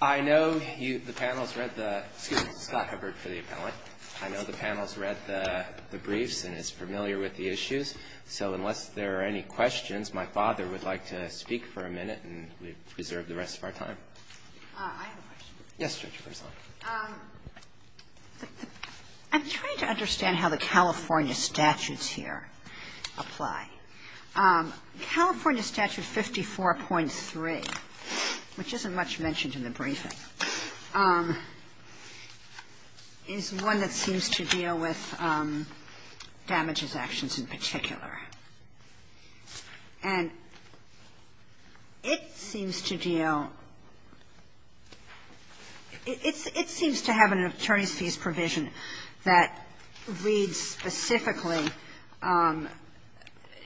I know the panel has read the briefs and is familiar with the issues. So unless there are any questions, my father would like to speak for a minute and we preserve the rest of our time. I have a question. Yes, Judge. I'm trying to understand how the California statutes here apply. California Statute 54.3, which isn't much mentioned in the briefing, is one that seems to deal with damages actions in particular. And it seems to deal – it seems to have an attorney's fees provision that reads specifically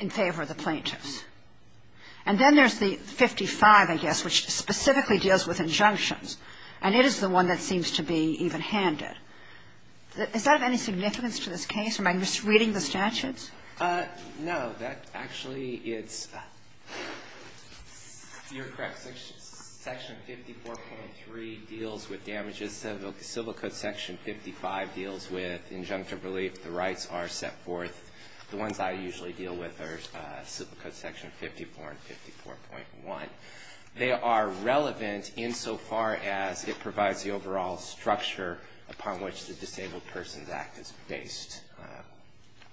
in favor of the plaintiffs. And then there's the 55, I guess, which specifically deals with injunctions, and it is the one that seems to be evenhanded. Does that have any significance to this case? Am I misreading the statutes? No. That actually is – you're correct. Section 54.3 deals with damages. Civil Code Section 55 deals with injunctive relief. The rights are set forth. The ones I usually deal with are Civil Code Section 54 and 54.1. They are relevant insofar as it provides the overall structure upon which the Disabled Persons Act is based.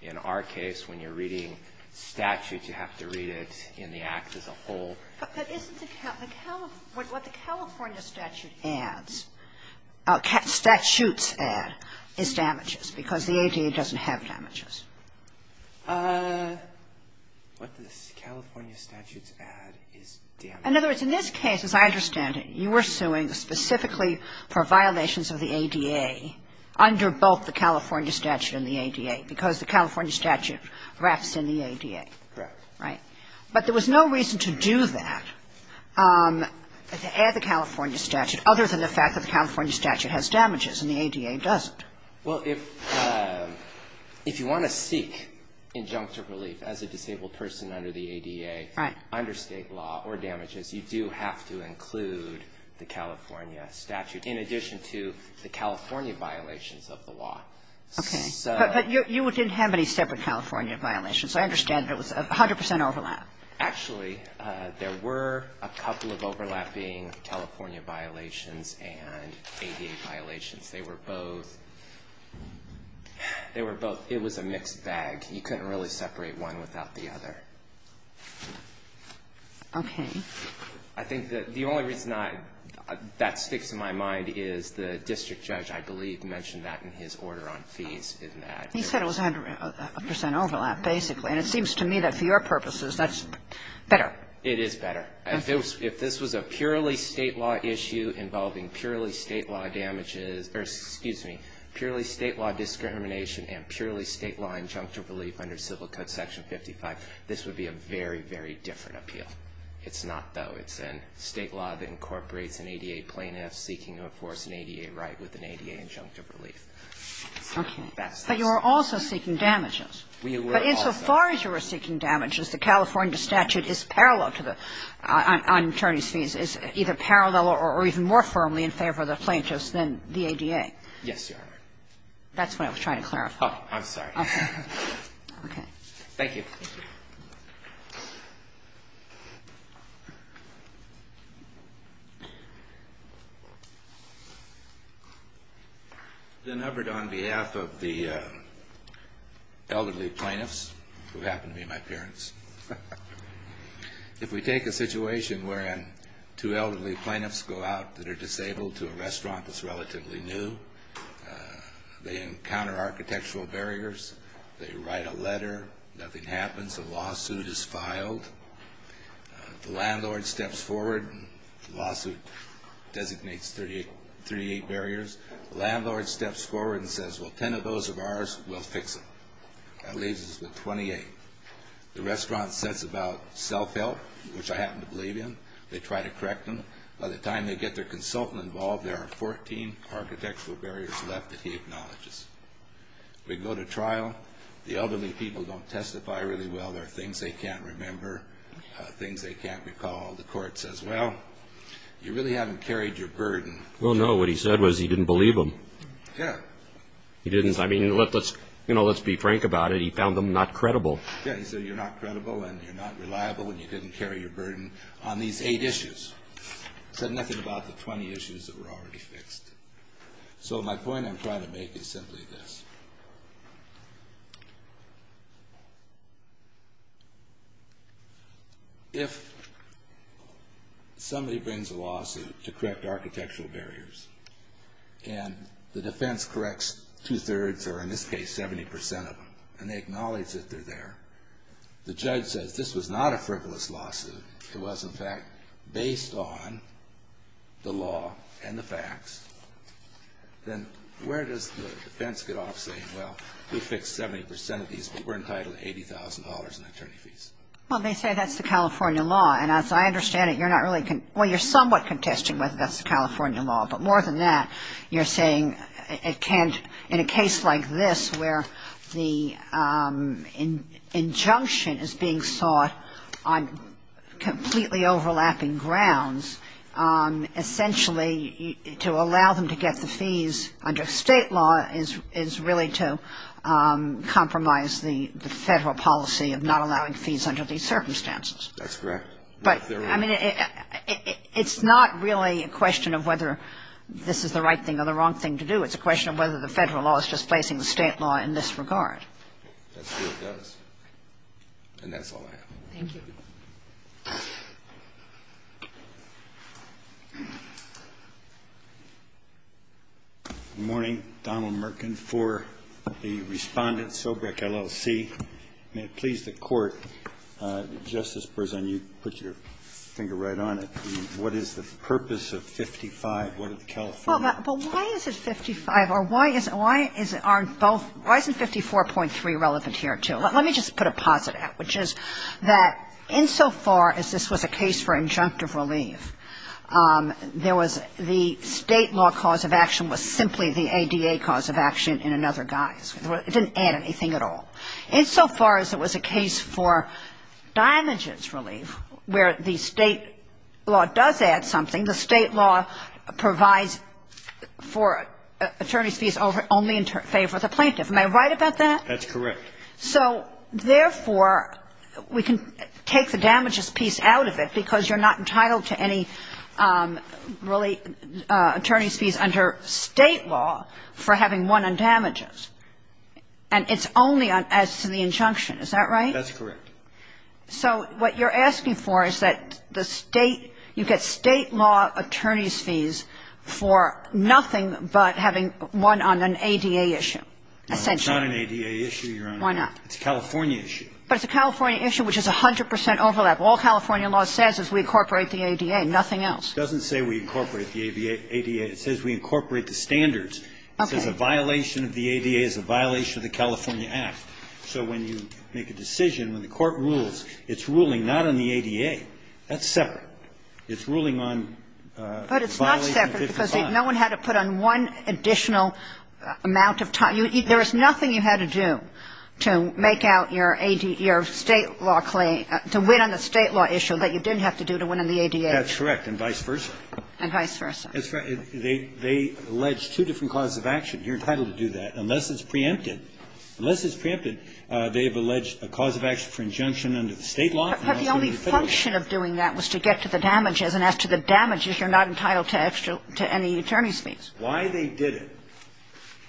In our case, when you're reading statutes, you have to read it in the Act as a whole. But isn't the – what the California statute adds – statutes add is damages, because the ADA doesn't have damages. What the California statutes add is damages. In other words, in this case, as I understand it, you are suing specifically for violations of the ADA under both the California statute and the ADA, because the California statute refs in the ADA. Correct. Right. But there was no reason to do that, to add the California statute, other than the fact that the California statute has damages and the ADA doesn't. Well, if you want to seek injunctive relief as a disabled person under the ADA under State law or damages, you do have to include the California statute in addition to the California violations of the law. Okay. But you didn't have any separate California violations. I understand it was 100 percent overlap. Actually, there were a couple of overlapping California violations and ADA violations. They were both – they were both – it was a mixed bag. You couldn't really separate one without the other. Okay. I think that the only reason I – that sticks in my mind is the district judge, I believe, mentioned that in his order on fees in that. He said it was 100 percent overlap, basically. And it seems to me that for your purposes, that's better. It is better. If this was a purely State law issue involving purely State law damages – or, excuse me, purely State law discrimination and purely State law injunctive relief under Civil Code Section 55, this would be a very, very different appeal. It's not, though. It's a State law that incorporates an ADA plaintiff seeking to enforce an ADA right with an ADA injunctive relief. Okay. But you are also seeking damages. We were also. But insofar as you were seeking damages, the California statute is parallel to the – on attorneys' fees, is either parallel or even more firmly in favor of the plaintiffs than the ADA. Yes, Your Honor. That's what I was trying to clarify. Oh, I'm sorry. Okay. Okay. Thank you. Thank you. Ben Hubbard on behalf of the elderly plaintiffs, who happen to be my parents. If we take a situation wherein two elderly plaintiffs go out that are disabled to a restaurant that's relatively new, they encounter architectural barriers, they write a letter, nothing happens, a lawsuit is filed, the landlord steps forward, the lawsuit designates 38 barriers, the landlord steps forward and says, well, 10 of those are ours, we'll fix them. That leaves us with 28. The restaurant says about self-help, which I happen to believe in, they try to correct them, by the time they get their consultant involved, there are 14 architectural barriers left that he acknowledges. We go to trial, the elderly people don't testify really well, there are things they can't remember, things they can't recall, the court says, well, you really haven't carried your burden. Well, no, what he said was he didn't believe them. Yeah. He didn't, I mean, let's be frank about it, he found them not credible. Yeah, he said you're not credible and you're not reliable and you didn't carry your burden on these eight issues. Said nothing about the 20 issues that were already fixed. So, my point I'm trying to make is simply this. If somebody brings a lawsuit to correct architectural barriers and the defense corrects two-thirds or, in this case, 70% of them, and they acknowledge that they're there, the judge says this was in fact based on the law and the facts, then where does the defense get off saying, well, we fixed 70% of these, but we're entitled to $80,000 in attorney fees? Well, they say that's the California law, and as I understand it, you're not really contesting, well, you're somewhat contesting whether that's the California law, but more than that, you're saying it can't, in a case like this where the injunction is being sought on completely overlapping grounds, essentially to allow them to get the fees under State law is really to compromise the Federal policy of not allowing fees under these circumstances. That's correct. But, I mean, it's not really a question of whether this is the right thing or the wrong thing to do. It's a question of whether the Federal law is displacing the State law in this regard. That's what it does, and that's all I have. Thank you. Good morning. Donald Merkin for the Respondent, Sobrec, LLC. May it please the Court, Justice Berzahn, you put your finger right on it. What is the purpose of 55? What did the California law say? Well, but why is it 55, or why is it on both? Why isn't 54.3 relevant here, too? Well, let me just put a posit at it, which is that insofar as this was a case for injunctive relief, there was the State law cause of action was simply the ADA cause of action in another guise. It didn't add anything at all. Insofar as it was a case for damages relief, where the State law does add something, the State law provides for attorneys' fees only in favor of the plaintiff. Am I right about that? That's correct. So, therefore, we can take the damages piece out of it because you're not entitled to any really attorneys' fees under State law for having one on damages. And it's only as to the injunction. Is that right? That's correct. So what you're asking for is that the State, you get State law attorneys' fees for nothing but having one on an ADA issue. No, it's not an ADA issue. Why not? It's a California issue. But it's a California issue, which is 100 percent overlap. All California law says is we incorporate the ADA, nothing else. It doesn't say we incorporate the ADA. It says we incorporate the standards. Okay. It says a violation of the ADA is a violation of the California Act. So when you make a decision, when the Court rules, it's ruling not on the ADA. That's separate. It's ruling on a violation of 55. But it's not separate because no one had to put on one additional amount of time. There was nothing you had to do to make out your State law claim, to win on the State law issue that you didn't have to do to win on the ADA. That's correct. And vice versa. And vice versa. That's right. They allege two different causes of action. You're entitled to do that, unless it's preempted. Unless it's preempted, they have alleged a cause of action for injunction under the State law. But the only function of doing that was to get to the damages, and as to the damages, you're not entitled to any attorney's fees. Why they did it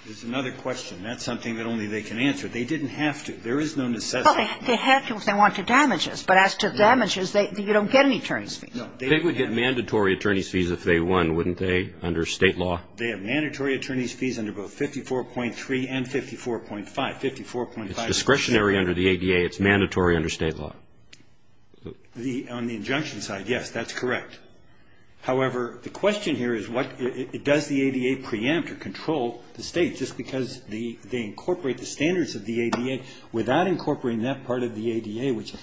is another question. That's something that only they can answer. They didn't have to. There is no necessity. Well, they had to if they wanted damages. But as to damages, you don't get any attorney's fees. No. They would get mandatory attorney's fees if they won, wouldn't they, under State law? They have mandatory attorney's fees under both 54.3 and 54.5. 54.5 is discretionary. It's discretionary under the ADA. It's mandatory under State law. On the injunction side, yes, that's correct. However, the question here is what does the ADA preempt or control the State just because they incorporate the standards of the ADA without incorporating that part of the ADA, which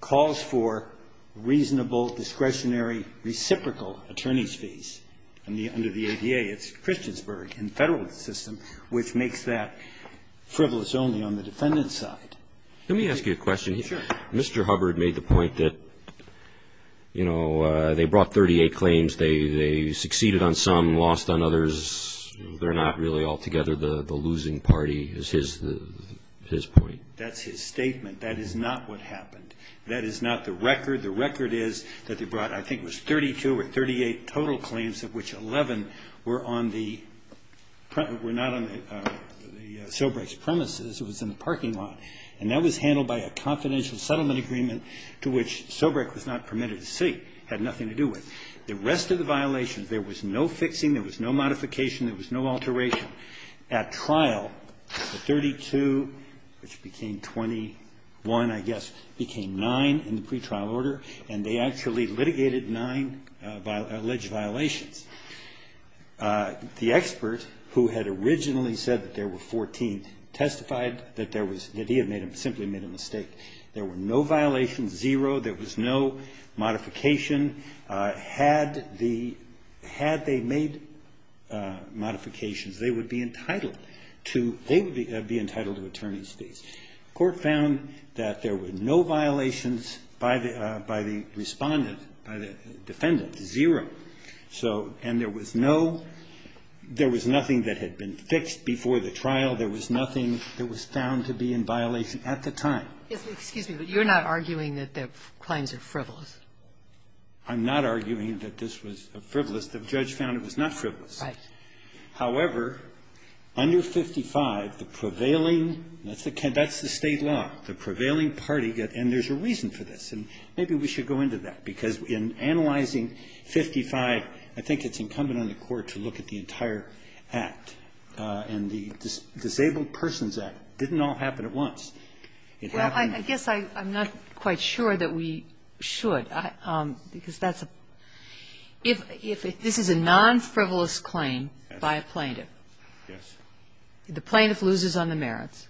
calls for reasonable, discretionary, reciprocal attorney's fees under the ADA. It's Christiansburg in the Federalist system, which makes that frivolous only on the defendant's side. Let me ask you a question. Sure. Mr. Hubbard made the point that, you know, they brought 38 claims. They succeeded on some, lost on others. They're not really all together the losing party is his point. That's his statement. That is not what happened. That is not the record. The record is that they brought, I think it was 32 or 38 total claims of which 11 were on the premises. It was in the parking lot. And that was handled by a confidential settlement agreement to which Sobrek was not permitted to see, had nothing to do with. The rest of the violations, there was no fixing, there was no modification, there was no alteration. At trial, the 32, which became 21, I guess, became nine in the pretrial order, and they actually litigated nine alleged violations. The expert who had originally said that there were 14 testified that there was, that he had made a, simply made a mistake. There were no violations, zero. There was no modification. Had the, had they made modifications, they would be entitled to, they would be entitled to attorney's fees. Court found that there were no violations by the respondent, by the defendant, zero. So, and there was no, there was nothing that had been fixed before the trial. There was nothing that was found to be in violation at the time. Sotomayor, you're not arguing that the claims are frivolous. I'm not arguing that this was frivolous. The judge found it was not frivolous. Right. However, under 55, the prevailing, that's the State law, the prevailing party, and there's a reason for this. And maybe we should go into that. Because in analyzing 55, I think it's incumbent on the Court to look at the entire act, and the Disabled Persons Act didn't all happen at once. It happened at once. Well, I guess I'm not quite sure that we should. Because that's a, if this is a non-frivolous claim by a plaintiff. Yes. The plaintiff loses on the merits.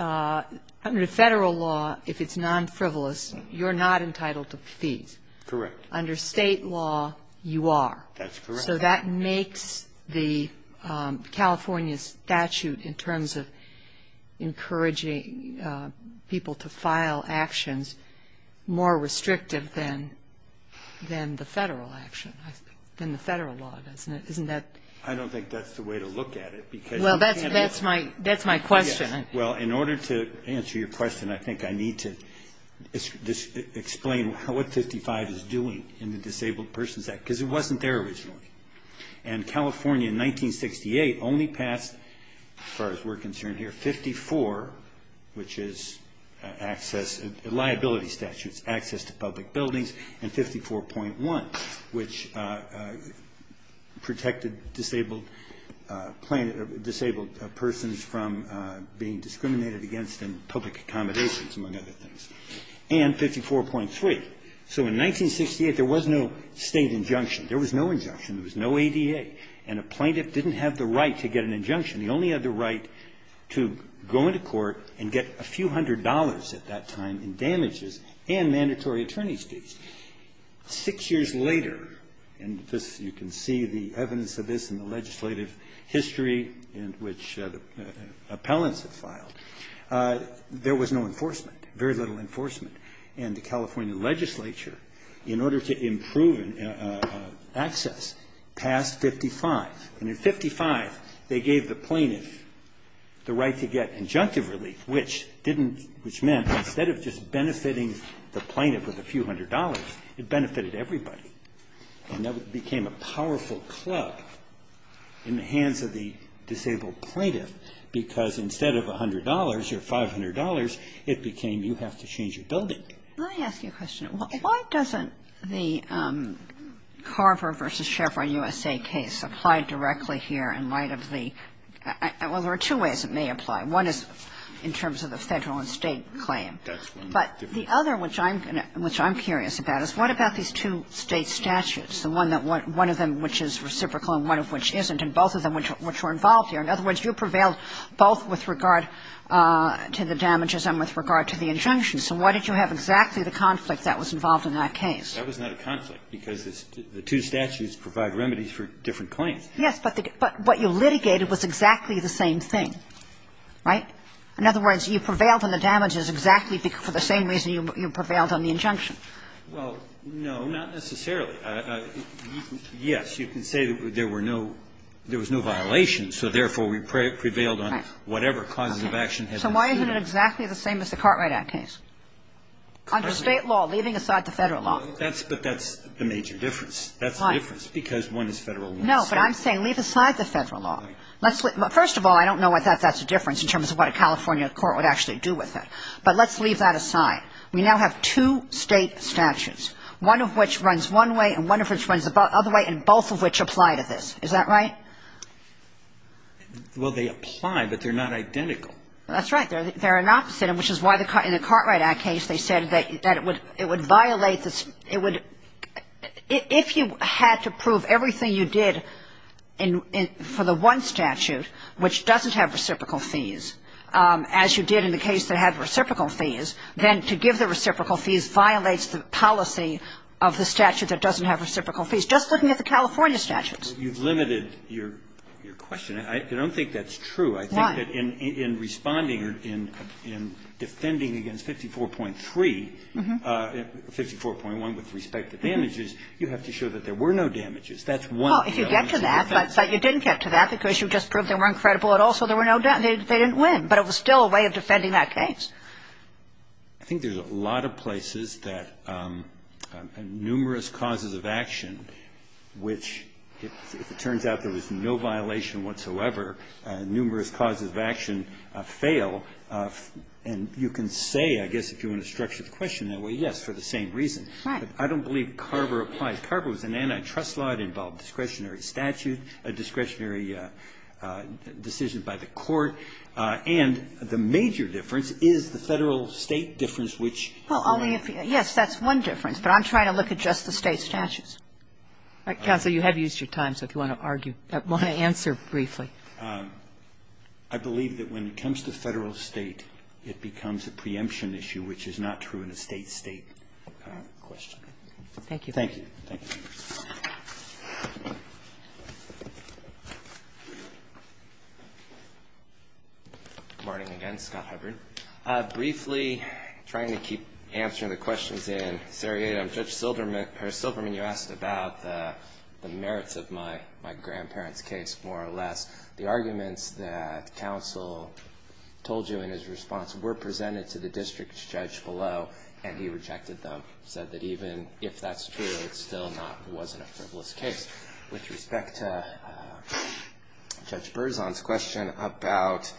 Under Federal law, if it's non-frivolous, you're not entitled to fees. Correct. Under State law, you are. That's correct. So that makes the California statute, in terms of encouraging people to file actions, more restrictive than the Federal action, than the Federal law, doesn't it? Isn't that? I don't think that's the way to look at it. Well, that's my question. Well, in order to answer your question, I think I need to explain what 55 is doing in the Disabled Persons Act. Because it wasn't there originally. And California, in 1968, only passed, as far as we're concerned here, 54, which is access, liability statutes, access to public buildings, and 54.1, which protected disabled persons from being discriminated against in public accommodations, among other things. And 54.3. So in 1968, there was no State injunction. There was no injunction. There was no ADA. And a plaintiff didn't have the right to get an injunction. He only had the right to go into court and get a few hundred dollars at that time in damages and mandatory attorney's fees. Six years later, and this, you can see the evidence of this in the legislative history in which appellants have filed, there was no enforcement, very little enforcement. And the California legislature, in order to improve access, passed 55. And in 55, they gave the plaintiff the right to get injunctive relief, which meant instead of just benefiting the plaintiff with a few hundred dollars, it benefited everybody. And that became a powerful club in the hands of the disabled plaintiff, because instead of $100 or $500, it became you have to change your building. Kagan. Let me ask you a question. Why doesn't the Carver v. Chevron U.S.A. case apply directly here in light of the – well, there are two ways it may apply. One is in terms of the Federal and State claim. But the other, which I'm curious about, is what about these two State statutes, the one that one of them which is reciprocal and one of which isn't, and both of them which were involved here? In other words, you prevailed both with regard to the damages and with regard to the injunctions. So why did you have exactly the conflict that was involved in that case? That was not a conflict, because the two statutes provide remedies for different claims. Yes, but what you litigated was exactly the same thing, right? In other words, you prevailed on the damages exactly for the same reason you prevailed on the injunction. Well, no, not necessarily. Yes, you can say there were no – there was no violation, so therefore we prevailed on whatever causes of action had been stated. So why isn't it exactly the same as the Cartwright Act case? Under State law, leaving aside the Federal law. But that's the major difference. That's the difference, because one is Federal and one is State. No, but I'm saying leave aside the Federal law. First of all, I don't know whether that's a difference in terms of what a California court would actually do with it. But let's leave that aside. We now have two State statutes, one of which runs one way and one of which runs the other way, and both of which apply to this. Is that right? Well, they apply, but they're not identical. That's right. They're an opposite, which is why in the Cartwright Act case they said that it would violate the – it would – if you had to prove everything you did for the one statute, which doesn't have reciprocal fees, as you did in the case that had reciprocal fees, then to give the reciprocal fees violates the policy of the statute that doesn't have reciprocal fees, just looking at the California statutes. Well, you've limited your question. I don't think that's true. Why? I think that in responding or in defending against 54.3, 54.1 with respect to damages, you have to show that there were no damages. That's one way of doing it. Well, if you get to that, but you didn't get to that because you just proved they weren't credible at all, so there were no damages, they didn't win. But it was still a way of defending that case. I think there's a lot of places that numerous causes of action, which if it turns out there was no violation whatsoever, numerous causes of action fail. And you can say, I guess, if you want to structure the question that way, yes, for the same reason. Right. But I don't believe Carver applies. Carver was an antitrust law. It involved discretionary statute, discretionary decisions by the court. And the major difference is the Federal-State difference, which you know. Well, only if you – yes, that's one difference. But I'm trying to look at just the State statutes. All right. Counsel, you have used your time, so if you want to argue, want to answer briefly. I believe that when it comes to Federal-State, it becomes a preemption issue, which is not true in a State-State question. Thank you. Thank you. Good morning again. Scott Hubbard. Briefly, trying to keep answering the questions in seriatim, Judge Silverman, you asked about the merits of my grandparents' case, more or less. The arguments that counsel told you in his response were presented to the district judge below, and he rejected them. He said that even if that's true, it's still not – it wasn't a frivolous case. With respect to Judge Berzon's question about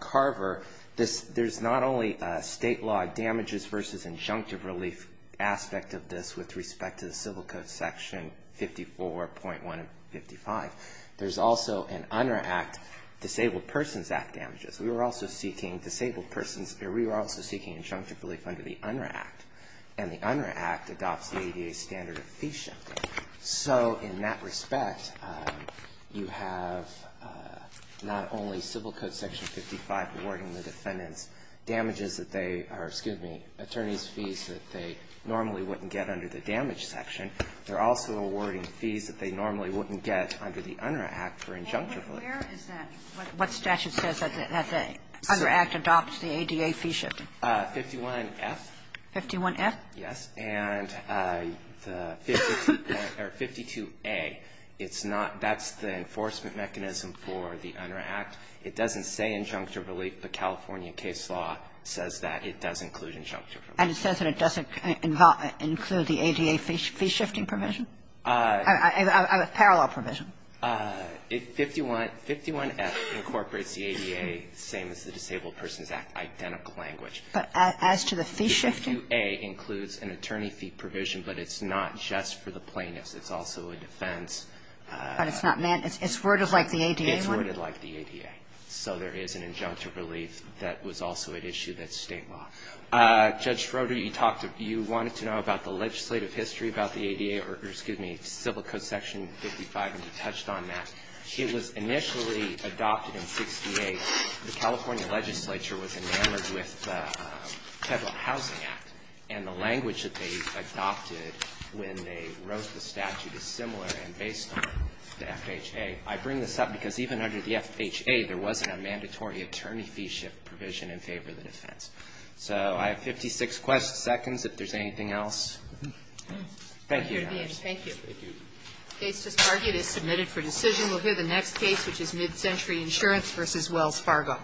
Carver, there's not only State law damages versus injunctive relief aspect of this with respect to the Civil Code Section 54.155. There's also an UNRRA Act, Disabled Persons Act damages. We were also seeking disabled persons – we were also seeking injunctive relief under the UNRRA Act. And the UNRRA Act adopts the ADA standard of fee shifting. So in that respect, you have not only Civil Code Section 55 awarding the defendants damages that they – or, excuse me, attorneys' fees that they normally wouldn't get under the damage section. They're also awarding fees that they normally wouldn't get under the UNRRA Act for injunctive relief. And where is that? What statute says that the UNRRA Act adopts the ADA fee shifting? 51F. 51F? Yes. And the 52A, it's not – that's the enforcement mechanism for the UNRRA Act. It doesn't say injunctive relief, but California case law says that it does include injunctive relief. And it says that it doesn't include the ADA fee shifting provision? Parallel provision. 51F incorporates the ADA, same as the Disabled Persons Act, identical language. But as to the fee shifting? The 52A includes an attorney fee provision, but it's not just for the plaintiffs. It's also a defense. But it's not – it's worded like the ADA one? It's worded like the ADA. So there is an injunctive relief that was also at issue that's state law. Judge Schroeder, you talked – you wanted to know about the legislative history about the ADA – or, excuse me, Civil Code Section 55, and you touched on that. It was initially adopted in 68. The California legislature was enamored with the Federal Housing Act, and the language that they adopted when they wrote the statute is similar and based on the FHA. I bring this up because even under the FHA, there wasn't a mandatory attorney fee shift provision in favor of the defense. So I have 56 seconds if there's anything else. Thank you, Your Honors. Thank you. The case is submitted for decision. We'll hear the next case, which is MidCentury Insurance v. Wells Fargo.